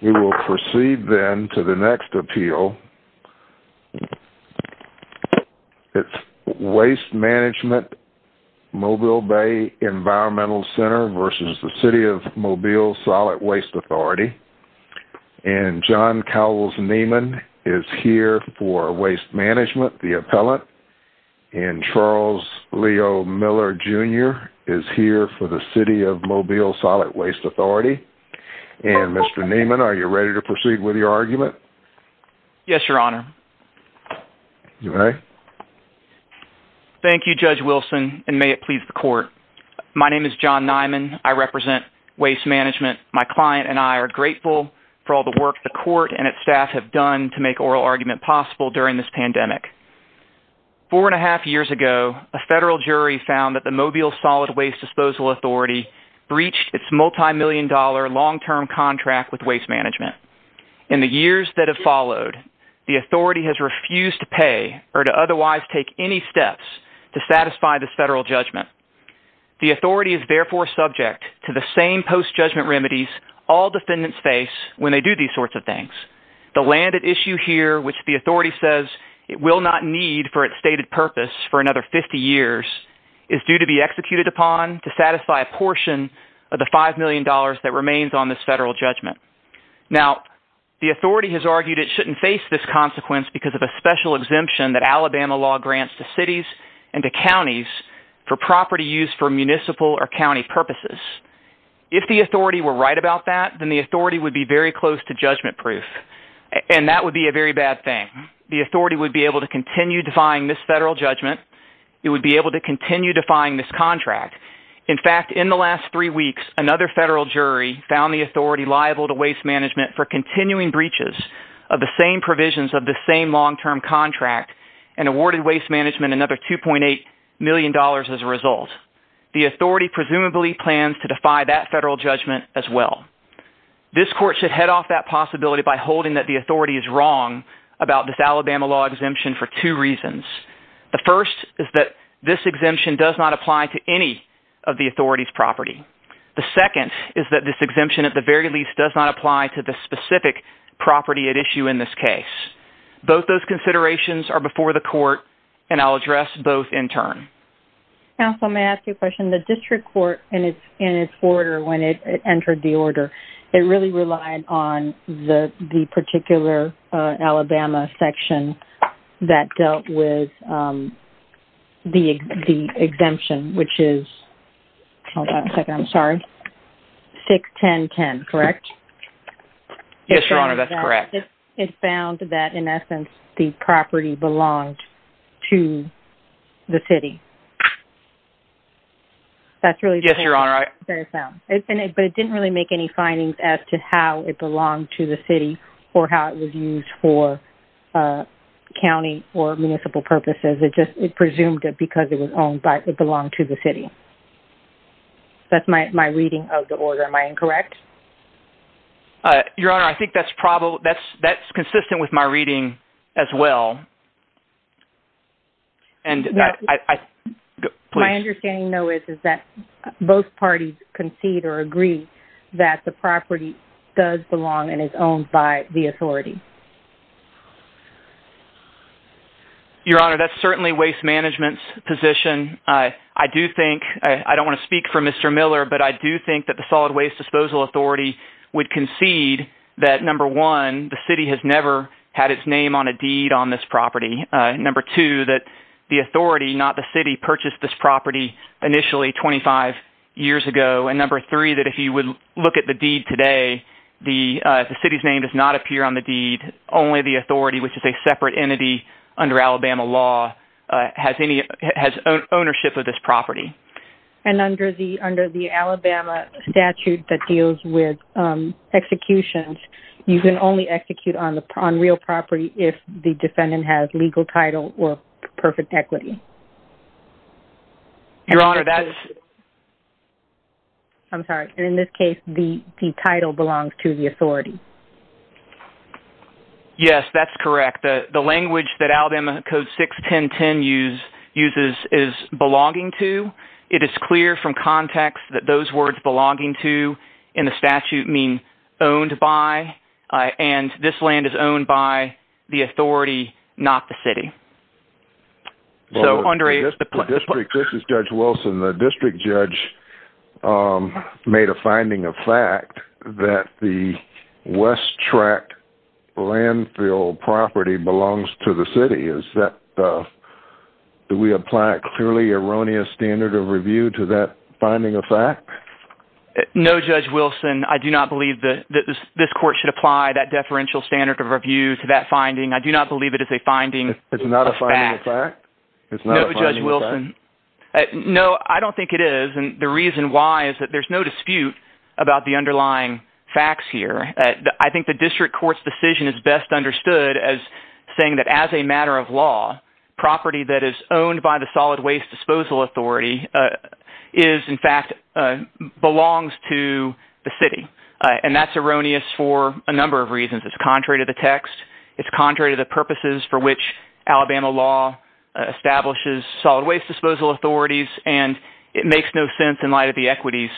We will proceed then to the next appeal. It's Waste Management Mobile Bay Environmental Center v. The City of Mobile Solid Waste Authority. And John Cowles Neiman is here for Waste Management, the appellant. And Charles Leo Miller, Jr. is here for The City of Mobile Solid Waste Authority. And Mr. Neiman, are you ready to proceed with your argument? Yes, Your Honor. You may. Thank you, Judge Wilson, and may it please the Court. My name is John Neiman. I represent Waste Management. My client and I are grateful for all the work the Court and its staff have done to make oral argument possible during this pandemic. Four and a half years ago, a federal jury found that the Mobile Solid Waste Disposal Authority breached its multi-million dollar long-term contract with Waste Management. In the years that have followed, the Authority has refused to pay or to otherwise take any steps to satisfy this federal judgment. The Authority is therefore subject to the same post-judgment remedies all defendants face when they do these sorts of things. The land at issue here, which the Authority says it will not need for its stated purpose for another 50 years, is due to be executed upon to satisfy a portion of the $5 million that remains on this federal judgment. Now, the Authority has argued it shouldn't face this consequence because of a special exemption that Alabama law grants to cities and to counties for property used for municipal or county purposes. If the Authority were right about that, then the Authority would be very close to judgment-proof, and that would be a very bad thing. The Authority would be able to continue defying this federal judgment. It would be able to continue defying this contract. In fact, in the last three weeks, another federal jury found the Authority liable to Waste Management for continuing breaches of the same provisions of the same long-term contract and awarded Waste Management another $2.8 million as a result. The Authority presumably plans to defy that federal judgment as well. This Court should head off that possibility by holding that the Authority is wrong about this Alabama law exemption for two reasons. The first is that this exemption does not apply to any of the Authority's property. The second is that this exemption, at the very least, does not apply to the specific property at issue in this case. Both those considerations are before the Court, and I'll address both in turn. Counsel, may I ask you a question? The District Court, in its order when it entered the order, it really relied on the particular Alabama section that dealt with the exemption, which is 61010, correct? Yes, Your Honor, that's correct. It found that, in essence, the property belonged to the city. Yes, Your Honor. But it didn't really make any findings as to how it belonged to the city or how it was used for county or municipal purposes. It presumed it because it belonged to the city. That's my reading of the order. Am I incorrect? Your Honor, I think that's consistent with my reading as well. My understanding, though, is that both parties concede or agree that the property does belong and is owned by the Authority. Your Honor, that's certainly Waste Management's position. I don't want to speak for Mr. Miller, but I do think that the Solid Waste Disposal Authority would concede that, number one, the city has never had its name on a deed on this property, number two, that the Authority, not the city, purchased this property initially 25 years ago, and number three, that if you would look at the deed today, the city's name does not appear on the deed. Only the Authority, which is a separate entity under Alabama law, has ownership of this property. And under the Alabama statute that deals with executions, you can only execute on real property if the defendant has legal title or perfect equity. Your Honor, that's... I'm sorry. In this case, the title belongs to the Authority. Yes, that's correct. The language that Alabama Code 61010 uses is belonging to. It is clear from context that those words belonging to in the statute mean owned by, and this land is owned by the Authority, not the city. This is Judge Wilson. The district judge made a finding of fact that the West Track Landfill property belongs to the city. Do we apply a clearly erroneous standard of review to that finding of fact? No, Judge Wilson. I do not believe that this court should apply that deferential standard of review to that finding. I do not believe it is a finding of fact. It's not a finding of fact? No, Judge Wilson. No, I don't think it is, and the reason why is that there's no dispute about the underlying facts here. I think the district court's decision is best understood as saying that as a matter of law, property that is owned by the Solid Waste Disposal Authority is, in fact, belongs to the city. That's erroneous for a number of reasons. It's contrary to the text. It's contrary to the purposes for which Alabama law establishes Solid Waste Disposal Authorities, and it makes no sense in light of the equities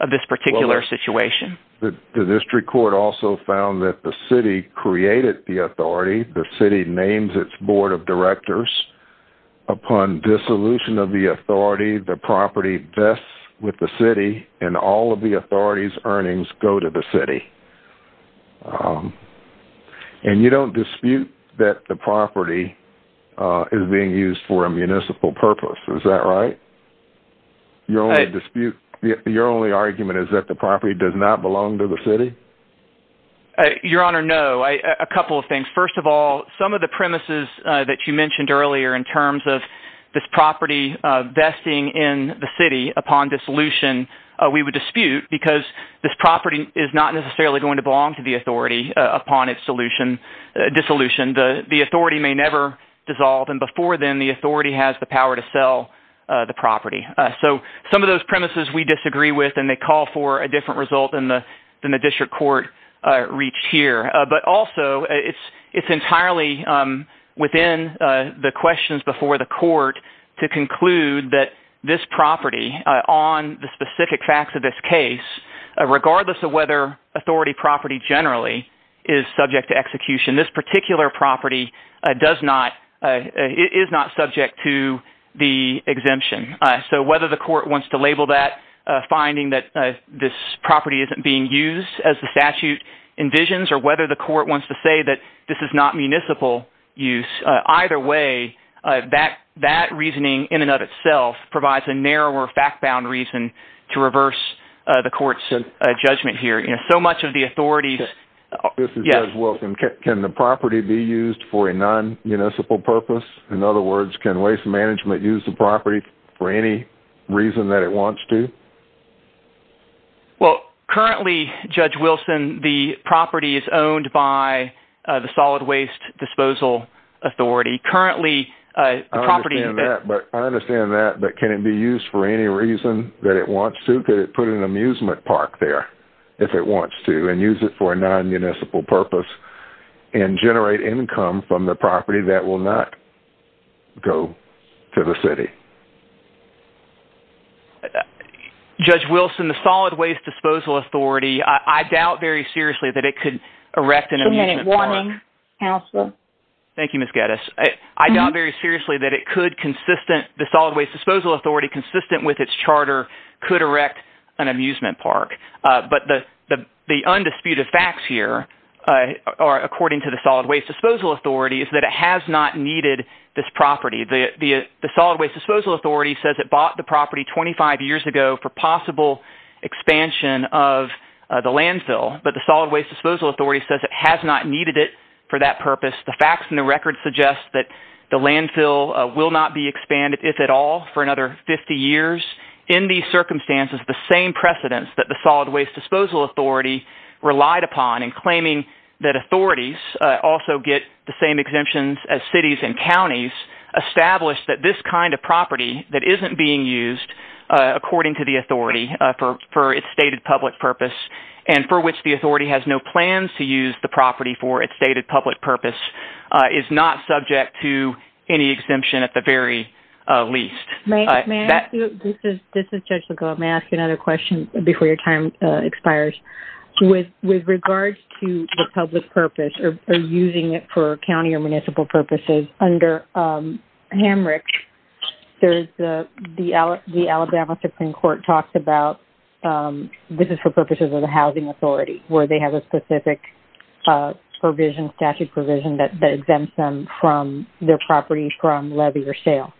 of this particular situation. The district court also found that the city created the authority. The city names its board of directors. Upon dissolution of the authority, the property vests with the city, and all of the authority's earnings go to the city. And you don't dispute that the property is being used for a municipal purpose. Is that right? Your only argument is that the property does not belong to the city? Your Honor, no. A couple of things. First of all, some of the premises that you mentioned earlier in terms of this property vesting in the city upon dissolution we would dispute because this property is not necessarily going to belong to the authority upon its dissolution. The authority may never dissolve, and before then, the authority has the power to sell the property. So some of those premises we disagree with, and they call for a different result than the district court reached here. But also, it's entirely within the questions before the court to conclude that this property, on the specific facts of this case, regardless of whether authority property generally is subject to execution, this particular property is not subject to the exemption. So whether the court wants to label that finding that this property isn't being used as the statute envisions, or whether the court wants to say that this is not municipal use, either way, that reasoning in and of itself provides a narrower fact-bound reason to reverse the court's judgment here. Judge Wilson, can the property be used for a non-municipal purpose? In other words, can waste management use the property for any reason that it wants to? Well, currently, Judge Wilson, the property is owned by the Solid Waste Disposal Authority. I understand that, but can it be used for any reason that it wants to? Could it put an amusement park there, if it wants to, and use it for a non-municipal purpose, and generate income from the property that will not go to the city? Judge Wilson, the Solid Waste Disposal Authority, I doubt very seriously that it could erect an amusement park. Thank you, Ms. Geddes. I doubt very seriously that the Solid Waste Disposal Authority, consistent with its charter, could erect an amusement park. But the undisputed facts here, according to the Solid Waste Disposal Authority, is that it has not needed this property. The Solid Waste Disposal Authority says it bought the property 25 years ago for possible expansion of the landfill, but the Solid Waste Disposal Authority says it has not needed it for that purpose. The facts in the record suggest that the landfill will not be expanded, if at all, for another 50 years. In these circumstances, the same precedence that the Solid Waste Disposal Authority relied upon in claiming that authorities also get the same exemptions as cities and counties, established that this kind of property that isn't being used, according to the authority, for its stated public purpose, and for which the authority has no plans to use the property for its stated public purpose, is not subject to any exemption at the very least. This is Judge LeGault. May I ask another question before your time expires? With regards to the public purpose, or using it for county or municipal purposes, under Hamrick, the Alabama Supreme Court talks about this is for purposes of the housing authority, where they have a specific provision, statute provision, that exempts them from their property from levy or sale.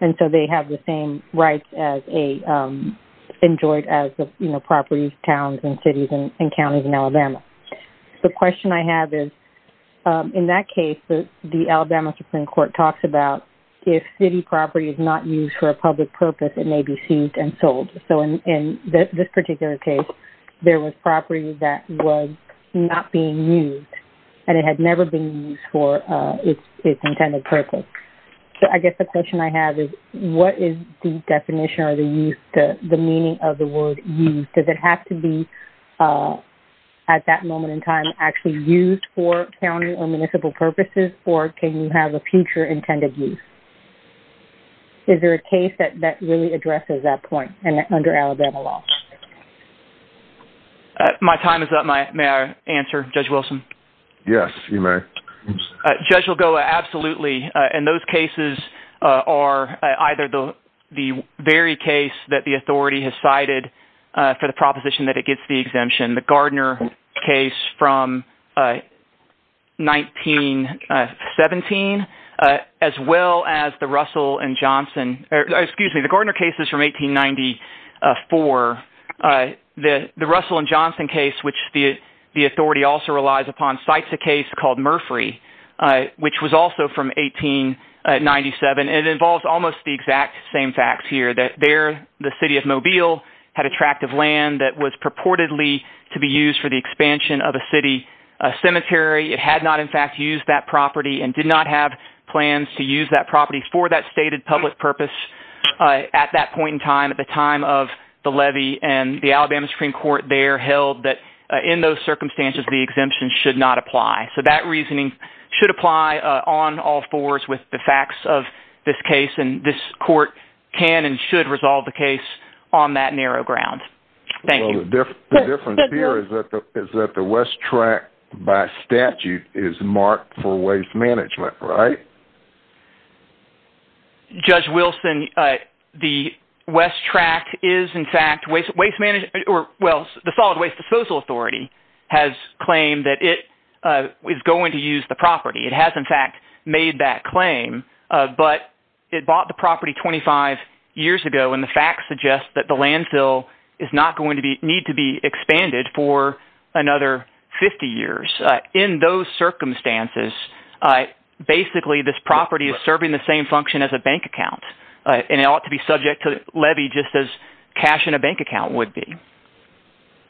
And so they have the same rights enjoyed as the properties, towns, and cities, and counties in Alabama. The question I have is, in that case, the Alabama Supreme Court talks about if city property is not used for a public purpose, it may be seized and sold. So in this particular case, there was property that was not being used, and it had never been used for its intended purpose. So I guess the question I have is, what is the definition or the meaning of the word used? Does it have to be, at that moment in time, actually used for county or municipal purposes, or can you have a future intended use? Is there a case that really addresses that point under Alabama law? My time is up. May I answer, Judge Wilson? Yes, you may. Judge will go absolutely, and those cases are either the very case that the authority has cited for the proposition that it gets the exemption, the Gardner case from 1917, as well as the Russell and Johnson – excuse me, the Gardner cases from 1894. The Russell and Johnson case, which the authority also relies upon, cites a case called Murphree, which was also from 1897. It involves almost the exact same facts here, that there, the city of Mobile had a tract of land that was purportedly to be used for the expansion of a city cemetery. It had not, in fact, used that property and did not have plans to use that property for that stated public purpose at that point in time, at the time of the levy, and the Alabama Supreme Court there held that, in those circumstances, the exemption should not apply. So that reasoning should apply on all fours with the facts of this case, and this court can and should resolve the case on that narrow ground. The difference here is that the West Tract, by statute, is marked for waste management, right? Judge Wilson, the West Tract is, in fact, waste management – well, the Solid Waste Disposal Authority has claimed that it is going to use the property. It has, in fact, made that claim, but it bought the property 25 years ago, and the facts suggest that the landfill is not going to need to be expanded for another 50 years. In those circumstances, basically, this property is serving the same function as a bank account, and it ought to be subject to levy just as cash in a bank account would be.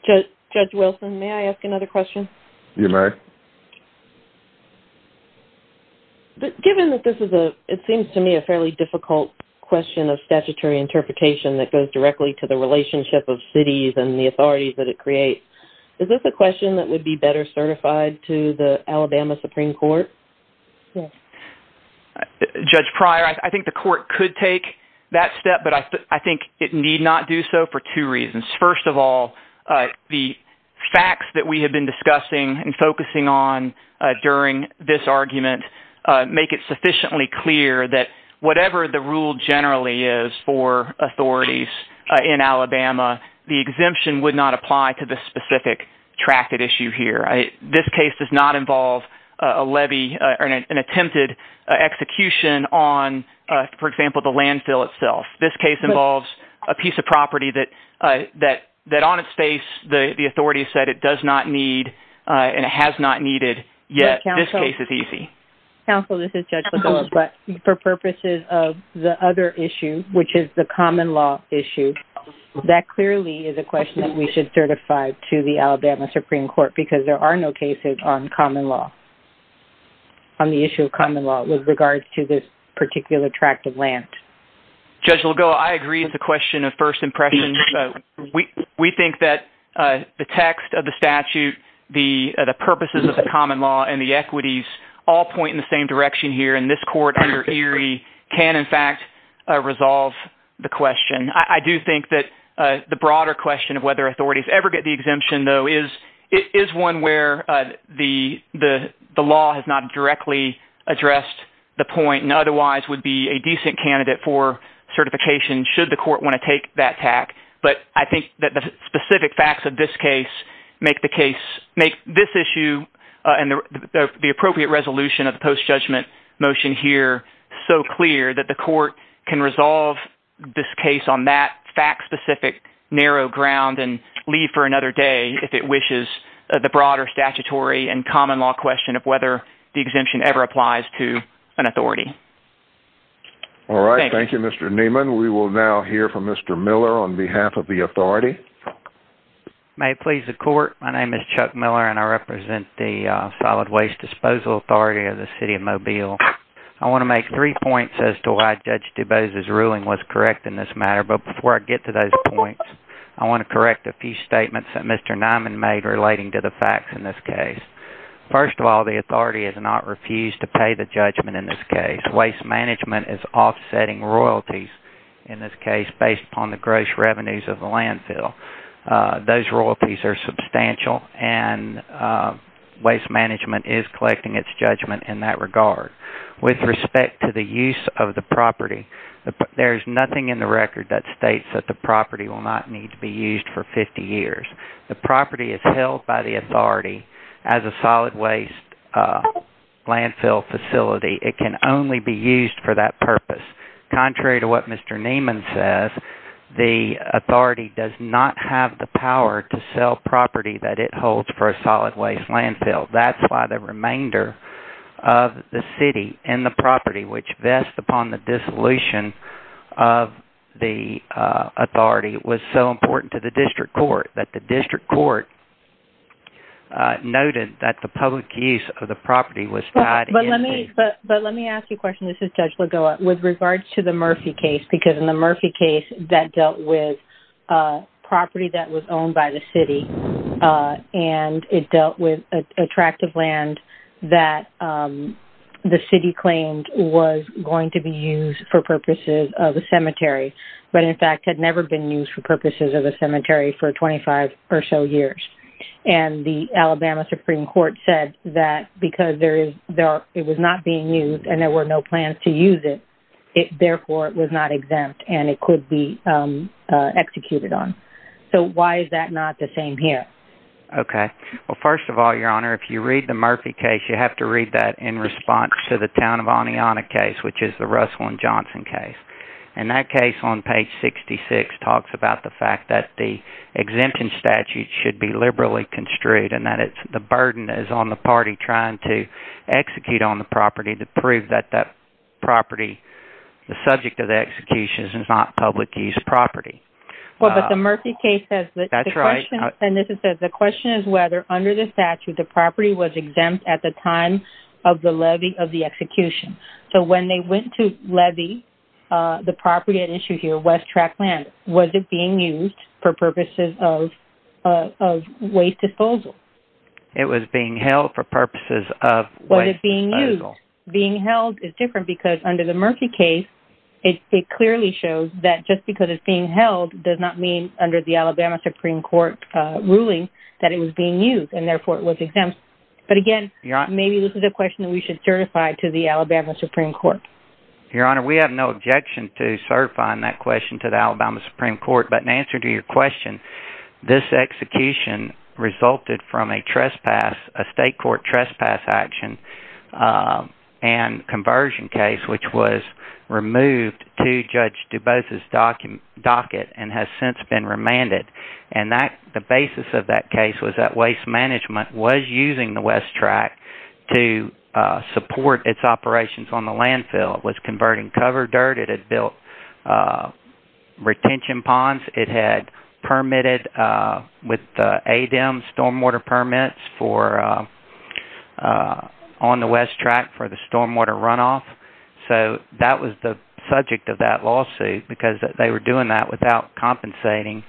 Judge Wilson, may I ask another question? You may. Given that this is, it seems to me, a fairly difficult question of statutory interpretation that goes directly to the relationship of cities and the authorities that it creates, is this a question that would be better certified to the Alabama Supreme Court? Judge Pryor, I think the court could take that step, but I think it need not do so for two reasons. First of all, the facts that we have been discussing and focusing on during this argument make it sufficiently clear that whatever the rule generally is for authorities in Alabama, the exemption would not apply to this specific tracted issue here. This case does not involve a levy or an attempted execution on, for example, the landfill itself. This case involves a piece of property that on its face the authorities said it does not need and it has not needed, yet this case is easy. Counsel, this is Judge Lagoa, but for purposes of the other issue, which is the common law issue, that clearly is a question that we should certify to the Alabama Supreme Court because there are no cases on common law, on the issue of common law with regards to this particular tract of land. Judge Lagoa, I agree with the question of first impressions. We think that the text of the statute, the purposes of the common law, and the equities all point in the same direction here, and this court under Erie can in fact resolve the question. I do think that the broader question of whether authorities ever get the exemption though is one where the law has not directly addressed the point and otherwise would be a decent candidate for certification should the court want to take that tact. But I think that the specific facts of this case make this issue and the appropriate resolution of the post-judgment motion here so clear that the court can resolve this case on that fact-specific narrow ground and leave for another day if it wishes the broader statutory and common law question of whether the exemption ever applies to an authority. Thank you, Mr. Nieman. We will now hear from Mr. Miller on behalf of the authority. May it please the court, my name is Chuck Miller and I represent the Solid Waste Disposal Authority of the City of Mobile. I want to make three points as to why Judge DuBose's ruling was correct in this matter, but before I get to those points, I want to correct a few statements that Mr. Nieman made relating to the facts in this case. First of all, the authority has not refused to pay the judgment in this case. Waste management is offsetting royalties in this case based upon the gross revenues of the landfill. Those royalties are substantial and waste management is collecting its judgment in that regard. With respect to the use of the property, there is nothing in the record that states that the property will not need to be used for 50 years. The property is held by the authority as a solid waste landfill facility. It can only be used for that purpose. Contrary to what Mr. Nieman says, the authority does not have the power to sell property that it holds for a solid waste landfill. That's why the remainder of the city and the property which vest upon the dissolution of the authority was so important to the district court that the district court noted that the public use of the property was tied in. But let me ask you a question. This is Judge Lagoa. With regards to the Murphy case, because in the Murphy case that dealt with property that was owned by the city and it dealt with attractive land that the city claimed was going to be used for purposes of a cemetery, but in fact had never been used for purposes of a cemetery for 25 or so years. And the Alabama Supreme Court said that because it was not being used and there were no plans to use it, therefore it was not exempt and it could be executed on. So why is that not the same here? Okay. Well, first of all, Your Honor, if you read the Murphy case, you have to read that in response to the town of Oneonta case, which is the Russell and Johnson case. And that case on page 66 talks about the fact that the exemption statute should be liberally construed and that the burden is on the party trying to execute on the property to prove that that property, the subject of the execution is not public use property. Well, but the Murphy case says that the question is whether under the statute the property was exempt at the time of the levy of the execution. So when they went to levy the property at issue here, West Trackland, was it being used for purposes of waste disposal? It was being held for purposes of waste disposal. Being held is different because under the Murphy case, it clearly shows that just because it's being held does not mean under the Alabama Supreme Court ruling that it was being used and therefore it was exempt. But again, maybe this is a question that we should certify to the Alabama Supreme Court. Your Honor, we have no objection to certifying that question to the Alabama Supreme Court. But in answer to your question, this execution resulted from a state court trespass action and conversion case, which was removed to Judge DuBose's docket and has since been remanded. And the basis of that case was that Waste Management was using the West Track to support its operations on the landfill. It was converting cover dirt. It had built retention ponds. It had permitted with ADEM stormwater permits on the West Track for the stormwater runoff. So that was the subject of that lawsuit because they were doing that without compensating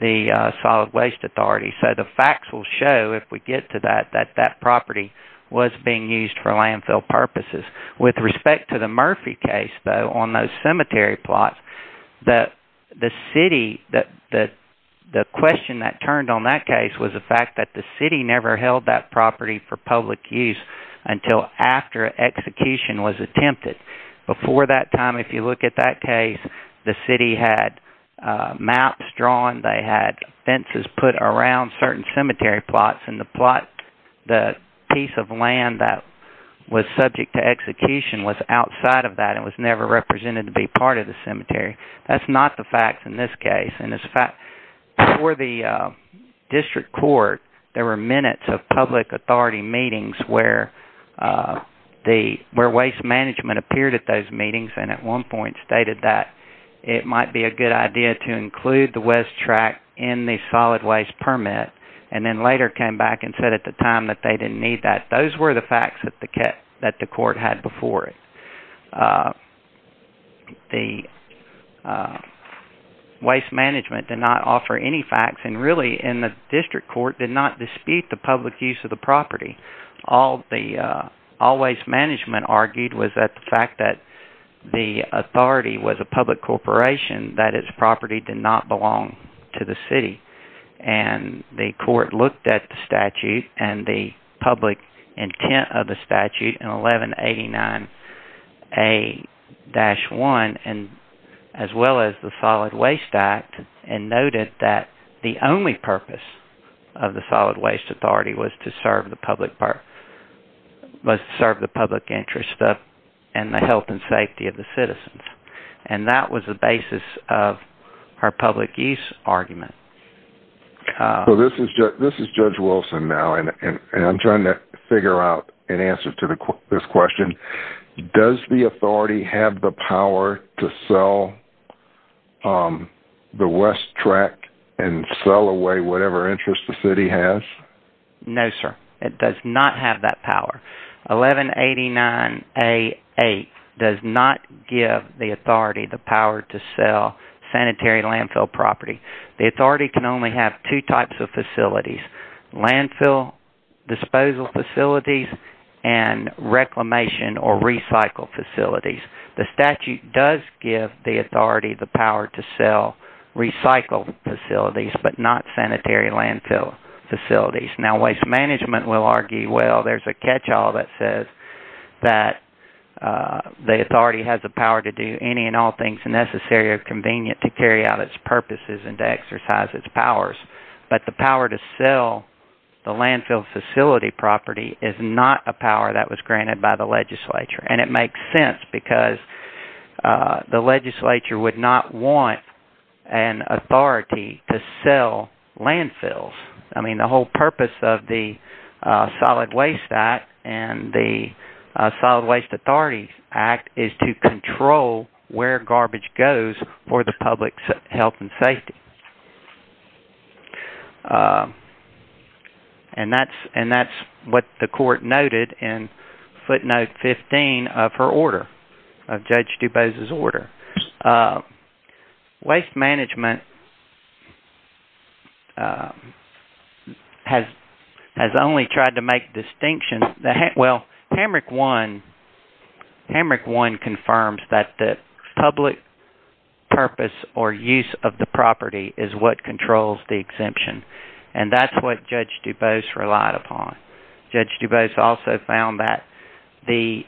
the Solid Waste Authority. So the facts will show, if we get to that, that that property was being used for landfill purposes. With respect to the Murphy case, though, on those cemetery plots, the question that turned on that case was the fact that the city never held that property for public use until after execution was attempted. Before that time, if you look at that case, the city had maps drawn. They had fences put around certain cemetery plots. And the plot, the piece of land that was subject to execution was outside of that and was never represented to be part of the cemetery. That's not the facts in this case. Before the district court, there were minutes of public authority meetings where Waste Management appeared at those meetings and at one point stated that it might be a good idea to include the West Track in the Solid Waste Permit and then later came back and said at the time that they didn't need that. Those were the facts that the court had before it. The Waste Management did not offer any facts and really in the district court did not dispute the public use of the property. All Waste Management argued was that the fact that the authority was a public corporation, that its property did not belong to the city. And the court looked at the statute and the public intent of the statute in 1189A-1 as well as the Solid Waste Act and noted that the only purpose of the Solid Waste Authority was to serve the public interest and the health and safety of the citizens. And that was the basis of her public use argument. This is Judge Wilson now and I'm trying to figure out an answer to this question. Does the authority have the power to sell the West Track and sell away whatever interest the city has? No, sir. It does not have that power. 1189A-8 does not give the authority the power to sell sanitary landfill property. The authority can only have two types of facilities. Landfill disposal facilities and reclamation or recycle facilities. The statute does give the authority the power to sell recycle facilities but not sanitary landfill facilities. Now Waste Management will argue, well, there's a catch-all that says that the authority has the power to do any and all things necessary or convenient to carry out its purposes and to exercise its powers. But the power to sell the landfill facility property is not a power that was granted by the legislature. And it makes sense because the legislature would not want an authority to sell landfills. I mean the whole purpose of the Solid Waste Act and the Solid Waste Authority Act is to control where garbage goes for the public's health and safety. And that's what the court noted in footnote 15 of her order, of Judge DuBose's order. Waste Management has only tried to make distinction, well, Hamrick 1 confirms that the public purpose or use of the property is what controls the exemption. And that's what Judge DuBose relied upon. Judge DuBose also found that the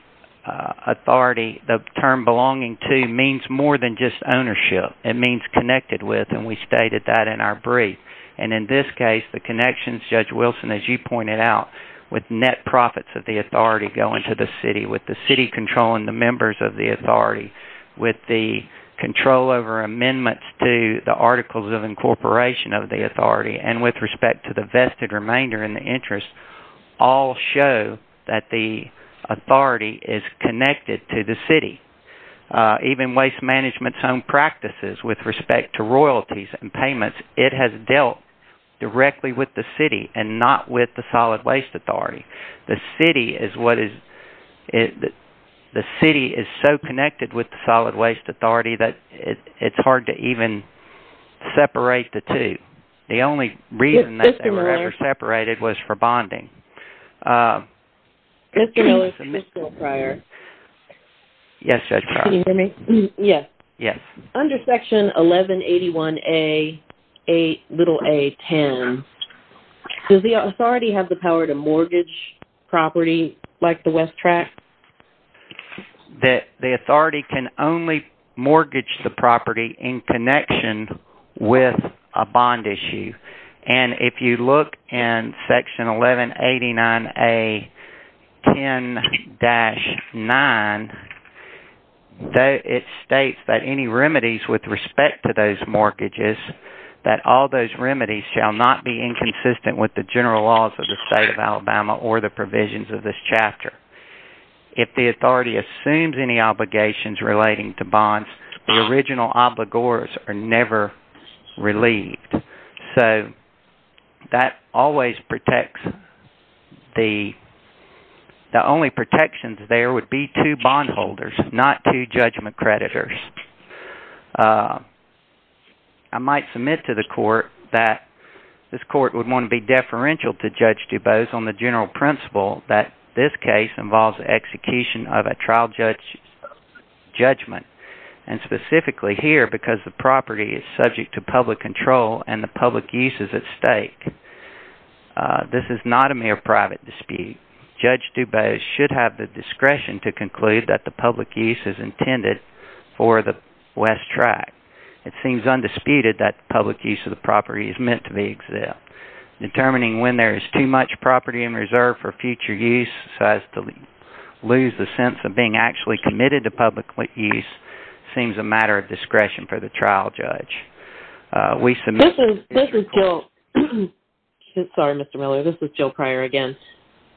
authority, the term belonging to means more than just ownership. It means connected with and we stated that in our brief. And in this case, the connections, Judge Wilson, as you pointed out, with net profits of the authority going to the city, with the city controlling the members of the authority, with the control over amendments to the articles of incorporation of the authority, and with respect to the vested remainder in the interest, all show that the authority is connected to the city. Even waste management's own practices with respect to royalties and payments, it has dealt directly with the city and not with the Solid Waste Authority. The city is so connected with the Solid Waste Authority that it's hard to even separate the two. The only reason that they were ever separated was for bonding. Mr. Miller, can you hear me? Yes, Judge. Can you hear me? Yes. Yes. Under Section 1181A.a.10, does the authority have the power to mortgage property like the West Track? The authority can only mortgage the property in connection with a bond issue. And if you look in Section 1189A.10-9, it states that any remedies with respect to those mortgages, that all those remedies shall not be inconsistent with the general laws of the state of Alabama or the provisions of this chapter. If the authority assumes any obligations relating to bonds, the original obligors are never relieved. The only protections there would be two bondholders, not two judgment creditors. I might submit to the court that this court would want to be deferential to Judge DuBose on the general principle that this case involves the execution of a trial judgment, and specifically here because the property is subject to public control and the public use is at stake. This is not a mere private dispute. Judge DuBose should have the discretion to conclude that the public use is intended for the West Track. It seems undisputed that public use of the property is meant to be exempt. Determining when there is too much property in reserve for future use so as to lose the sense of being actually committed to public use seems a matter of discretion for the trial judge. This is Jill. Sorry, Mr. Miller. This is Jill Pryor again.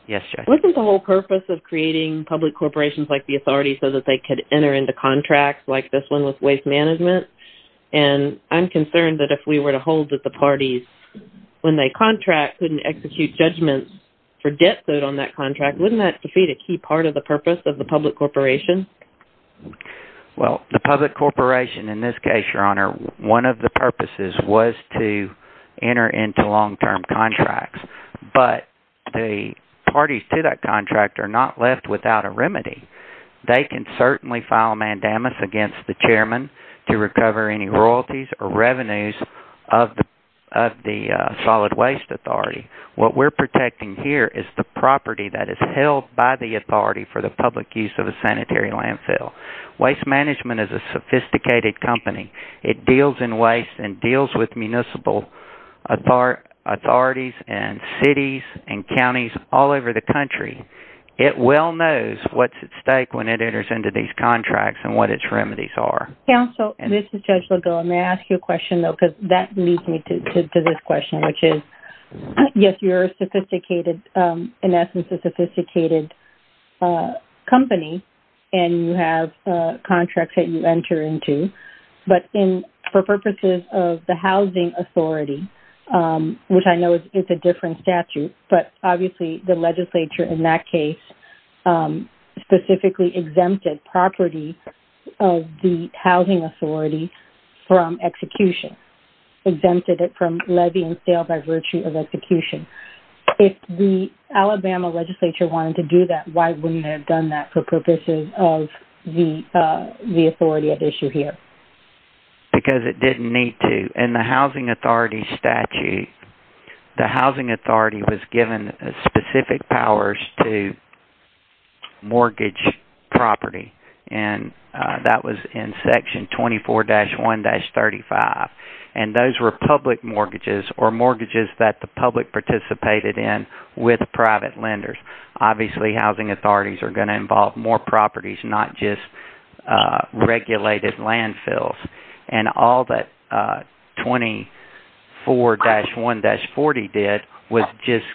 Wasn't the whole purpose of creating public corporations like the authority so that they could enter into contracts like this one with waste management? And I'm concerned that if we were to hold that the parties, when they contract, couldn't execute judgments for debt owed on that contract, wouldn't that defeat a key part of the purpose of the public corporation? Well, the public corporation in this case, Your Honor, one of the purposes was to enter into long-term contracts, but the parties to that contract are not left without a remedy. They can certainly file mandamus against the chairman to recover any royalties or revenues of the solid waste authority. What we're protecting here is the property that is held by the authority for the public use of a sanitary landfill. Waste management is a sophisticated company. It deals in waste and deals with municipal authorities and cities and counties all over the country. It well knows what's at stake when it enters into these contracts and what its remedies are. Counsel, this is Judge Legault. May I ask you a question, though, because that leads me to this question, which is, yes, you're a sophisticated, in essence, a sophisticated company, and you have contracts that you enter into. But for purposes of the housing authority, which I know is a different statute, but obviously the legislature in that case specifically exempted property of the housing authority from execution, exempted it from levy and sale by virtue of execution. If the Alabama legislature wanted to do that, why wouldn't they have done that for purposes of the authority at issue here? Because it didn't need to. In the housing authority statute, the housing authority was given specific powers to mortgage property, and that was in Section 24-1-35. And those were public mortgages or mortgages that the public participated in with private lenders. Obviously, housing authorities are going to involve more properties, not just regulated landfills. And all that 24-1-40 did was just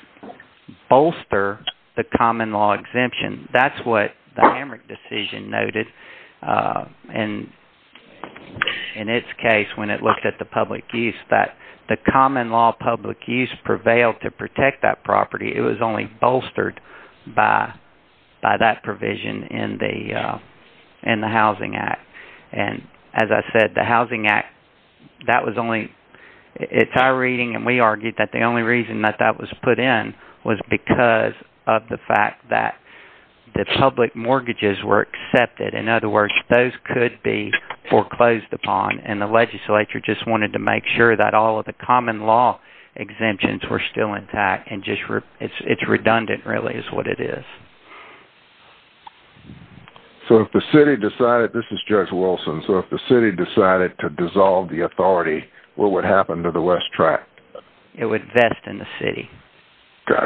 bolster the common law exemption. That's what the Hamrick decision noted. And in its case, when it looked at the public use, that the common law public use prevailed to protect that property. It was only bolstered by that provision in the Housing Act. As I said, the Housing Act, it's our reading and we argued that the only reason that that was put in was because of the fact that the public mortgages were accepted. In other words, those could be foreclosed upon, and the legislature just wanted to make sure that all of the common law exemptions were still intact. It's redundant, really, is what it is. So if the city decided, this is Judge Wilson, so if the city decided to dissolve the authority, what would happen to the West Tract? It would vest in the city.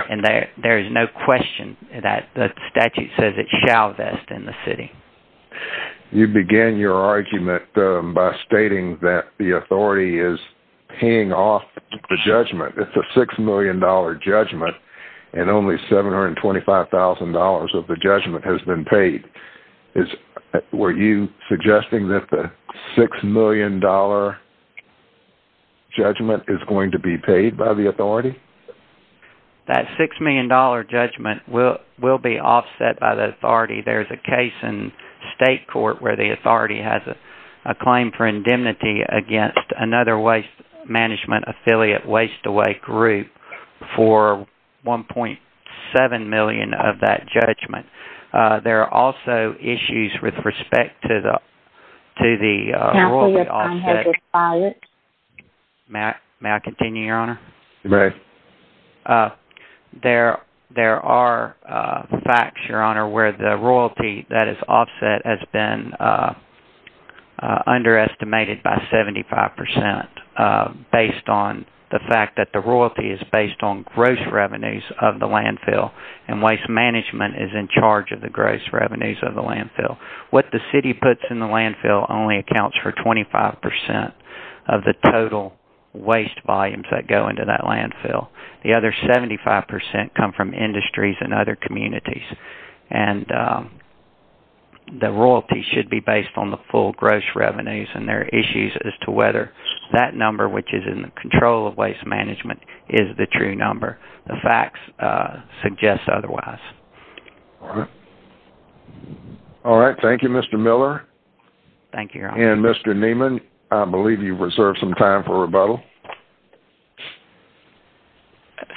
And there is no question that the statute says it shall vest in the city. You begin your argument by stating that the authority is paying off the judgment. It's a $6 million judgment, and only $725,000 of the judgment has been paid. Were you suggesting that the $6 million judgment is going to be paid by the authority? That $6 million judgment will be offset by the authority. There's a case in state court where the authority has a claim for indemnity against another waste management affiliate, WasteAway Group, for $1.7 million of that judgment. There are also issues with respect to the royalty offset. Counsel, your time has expired. May I continue, Your Honor? You may. There are facts, Your Honor, where the royalty that is offset has been underestimated by 75% based on the fact that the royalty is based on gross revenues of the landfill, and waste management is in charge of the gross revenues of the landfill. What the city puts in the landfill only accounts for 25% of the total waste volumes that go into that landfill. The other 75% come from industries and other communities. The royalty should be based on the full gross revenues, and there are issues as to whether that number, which is in the control of waste management, is the true number. The facts suggest otherwise. All right. All right. Thank you, Mr. Miller. Thank you, Your Honor. And, Mr. Neiman, I believe you've reserved some time for rebuttal.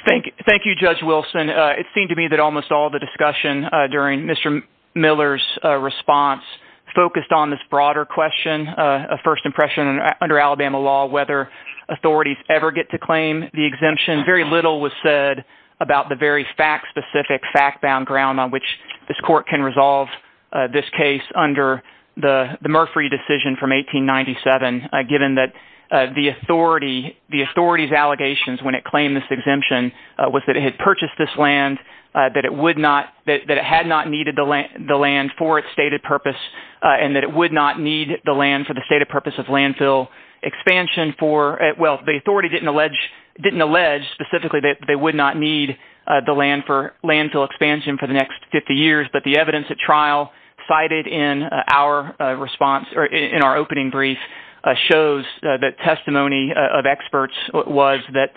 Thank you, Judge Wilson. It seemed to me that almost all the discussion during Mr. Miller's response focused on this broader question, a first impression under Alabama law whether authorities ever get to claim the exemption. Very little was said about the very fact-specific, fact-bound ground on which this court can resolve this case under the Murphree decision from 1897, given that the authority's allegations when it claimed this exemption was that it had purchased this land, that it had not needed the land for its stated purpose, and that it would not need the land for the stated purpose of landfill expansion. The authority didn't allege specifically that they would not need the land for landfill expansion for the next 50 years, but the evidence at trial cited in our opening brief shows that testimony of experts was that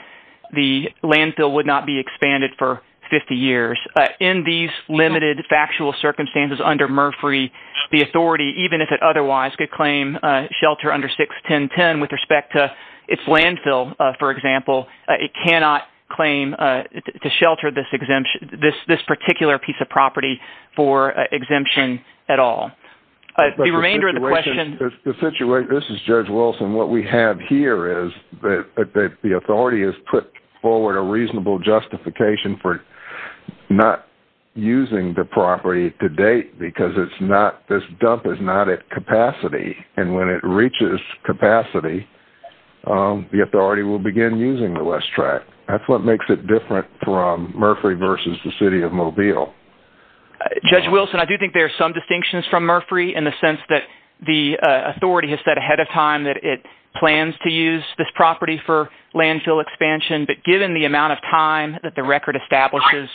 the landfill would not be expanded for 50 years. In these limited factual circumstances under Murphree, the authority, even if it otherwise could claim shelter under 61010 with respect to its landfill, for example, it cannot claim to shelter this particular piece of property for exemption at all. This is Judge Wilson. What we have here is that the authority has put forward a reasonable justification for not using the property to date because this dump is not at capacity, and when it reaches capacity, the authority will begin using the West Tract. That's what makes it different from Murphree versus the City of Mobile. Judge Wilson, I do think there are some distinctions from Murphree in the sense that the authority has said ahead of time that it plans to use this property for landfill expansion, but given the amount of time that the record establishes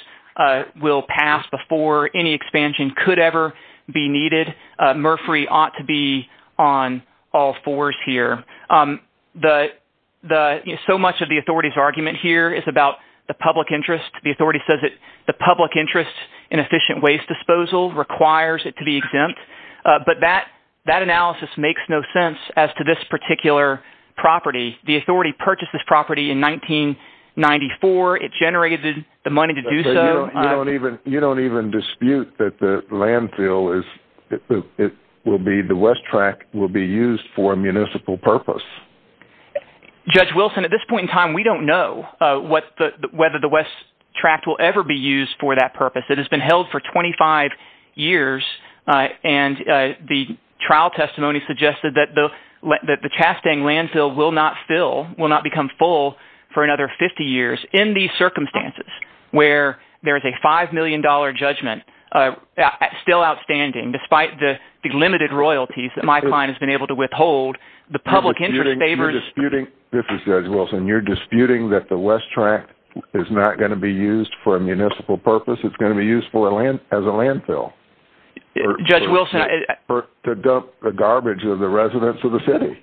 will pass before any expansion could ever be needed, Murphree ought to be on all fours here. So much of the authority's argument here is about the public interest. The authority says that the public interest in efficient waste disposal requires it to be exempt, but that analysis makes no sense as to this particular property. The authority purchased this property in 1994. It generated the money to do so. You don't even dispute that the West Tract will be used for a municipal purpose. Judge Wilson, at this point in time, we don't know whether the West Tract will ever be used for that purpose. It has been held for 25 years, and the trial testimony suggested that the Chastang landfill will not fill, will not become full for another 50 years in these circumstances, where there is a $5 million judgment still outstanding, despite the limited royalties that my client has been able to withhold. The public interest favors... You're disputing that the West Tract is not going to be used for a municipal purpose. It's going to be used as a landfill. Judge Wilson... To dump the garbage of the residents of the city.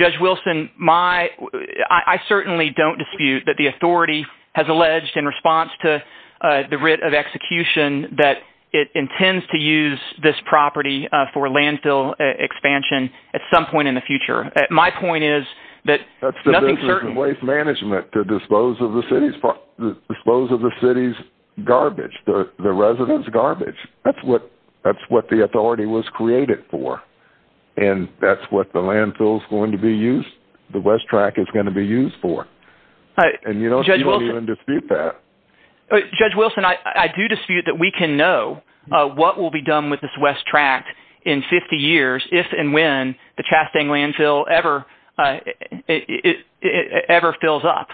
Judge Wilson, I certainly don't dispute that the authority has alleged, in response to the writ of execution, that it intends to use this property for landfill expansion at some point in the future. My point is that... That's the business of waste management, to dispose of the city's garbage, the residents' garbage. That's what the authority was created for. And that's what the landfill is going to be used, the West Tract is going to be used for. And you don't seem to dispute that. Judge Wilson, I do dispute that we can know what will be done with this West Tract in 50 years, if and when the Chastang landfill ever fills up.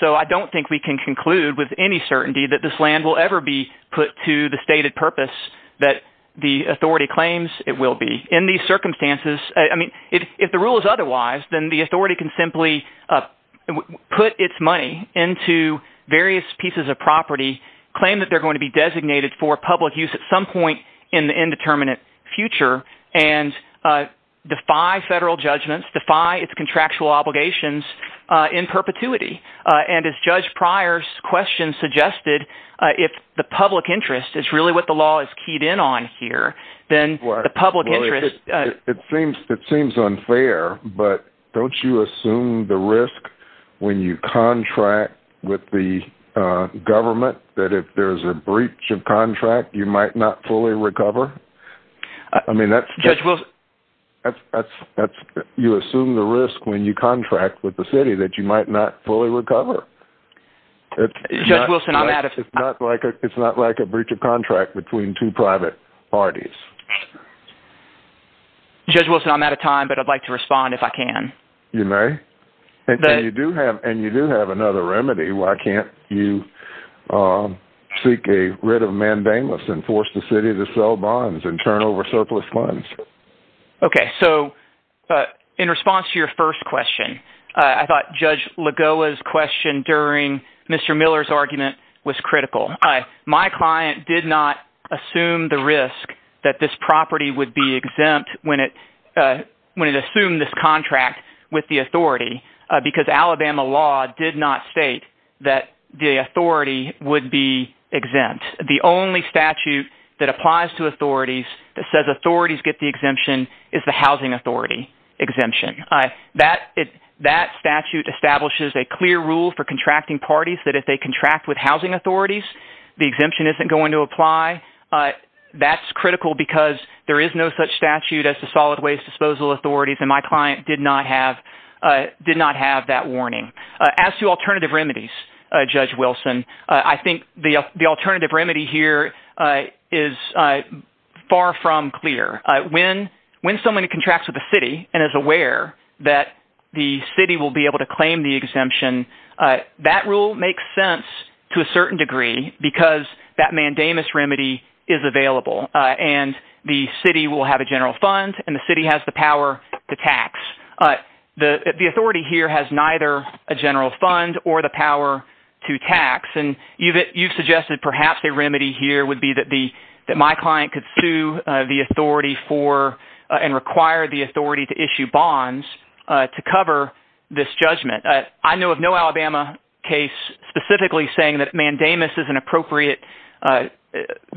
So I don't think we can conclude with any certainty that this land will ever be put to the stated purpose that the authority claims it will be. In these circumstances, I mean, if the rule is otherwise, then the authority can simply put its money into various pieces of property, claim that they're going to be designated for public use at some point in the indeterminate future, and defy federal judgments, defy its contractual obligations in perpetuity. And as Judge Pryor's question suggested, if the public interest is really what the law is keyed in on here, then the public interest... It seems unfair, but don't you assume the risk when you contract with the government, that if there's a breach of contract, you might not fully recover? Judge Wilson... You assume the risk when you contract with the city that you might not fully recover. Judge Wilson, I'm out of... It's not like a breach of contract between two private parties. Judge Wilson, I'm out of time, but I'd like to respond if I can. You may. And you do have another remedy. Why can't you seek a writ of mandamus and force the city to sell bonds and turn over surplus funds? Okay, so in response to your first question, I thought Judge Lagoa's question during Mr. Miller's argument was critical. My client did not assume the risk that this property would be exempt when it assumed this contract with the authority because Alabama law did not state that the authority would be exempt. The only statute that applies to authorities that says authorities get the exemption is the housing authority exemption. That statute establishes a clear rule for contracting parties that if they contract with housing authorities, the exemption isn't going to apply. That's critical because there is no such statute as the solid waste disposal authorities, and my client did not have that warning. As to alternative remedies, Judge Wilson, I think the alternative remedy here is far from clear. When someone contracts with the city and is aware that the city will be able to claim the exemption, that rule makes sense to a certain degree because that mandamus remedy is available, and the city will have a general fund, and the city has the power to tax. The authority here has neither a general fund or the power to tax, and you've suggested perhaps a remedy here would be that my client could sue the authority for and require the authority to issue bonds to cover this judgment. I know of no Alabama case specifically saying that mandamus is an appropriate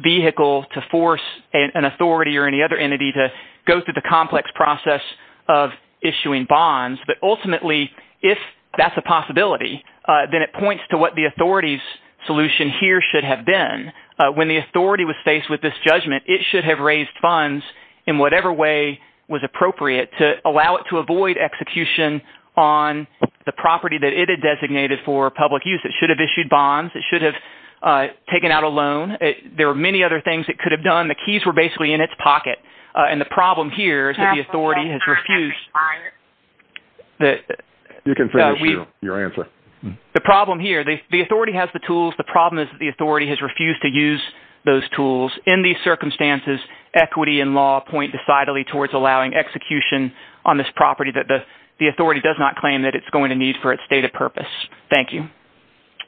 vehicle to force an authority or any other entity to go through the complex process of issuing bonds, but ultimately if that's a possibility, then it points to what the authority's solution here should have been. When the authority was faced with this judgment, it should have raised funds in whatever way was appropriate to allow it to avoid execution on the property that it had designated for public use. It should have issued bonds. It should have taken out a loan. There are many other things it could have done. The keys were basically in its pocket, and the problem here is that the authority has refused – You can finish your answer. The problem here, the authority has the tools. The problem is that the authority has refused to use those tools. In these circumstances, equity and law point decidedly towards allowing execution on this property that the authority does not claim that it's going to need for its stated purpose. Thank you.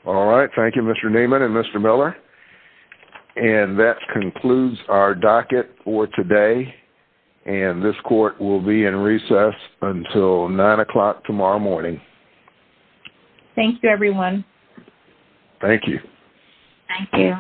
All right. Thank you, Mr. Neiman and Mr. Miller. And that concludes our docket for today, and this court will be in recess until 9 o'clock tomorrow morning. Thank you, everyone. Thank you. Thank you.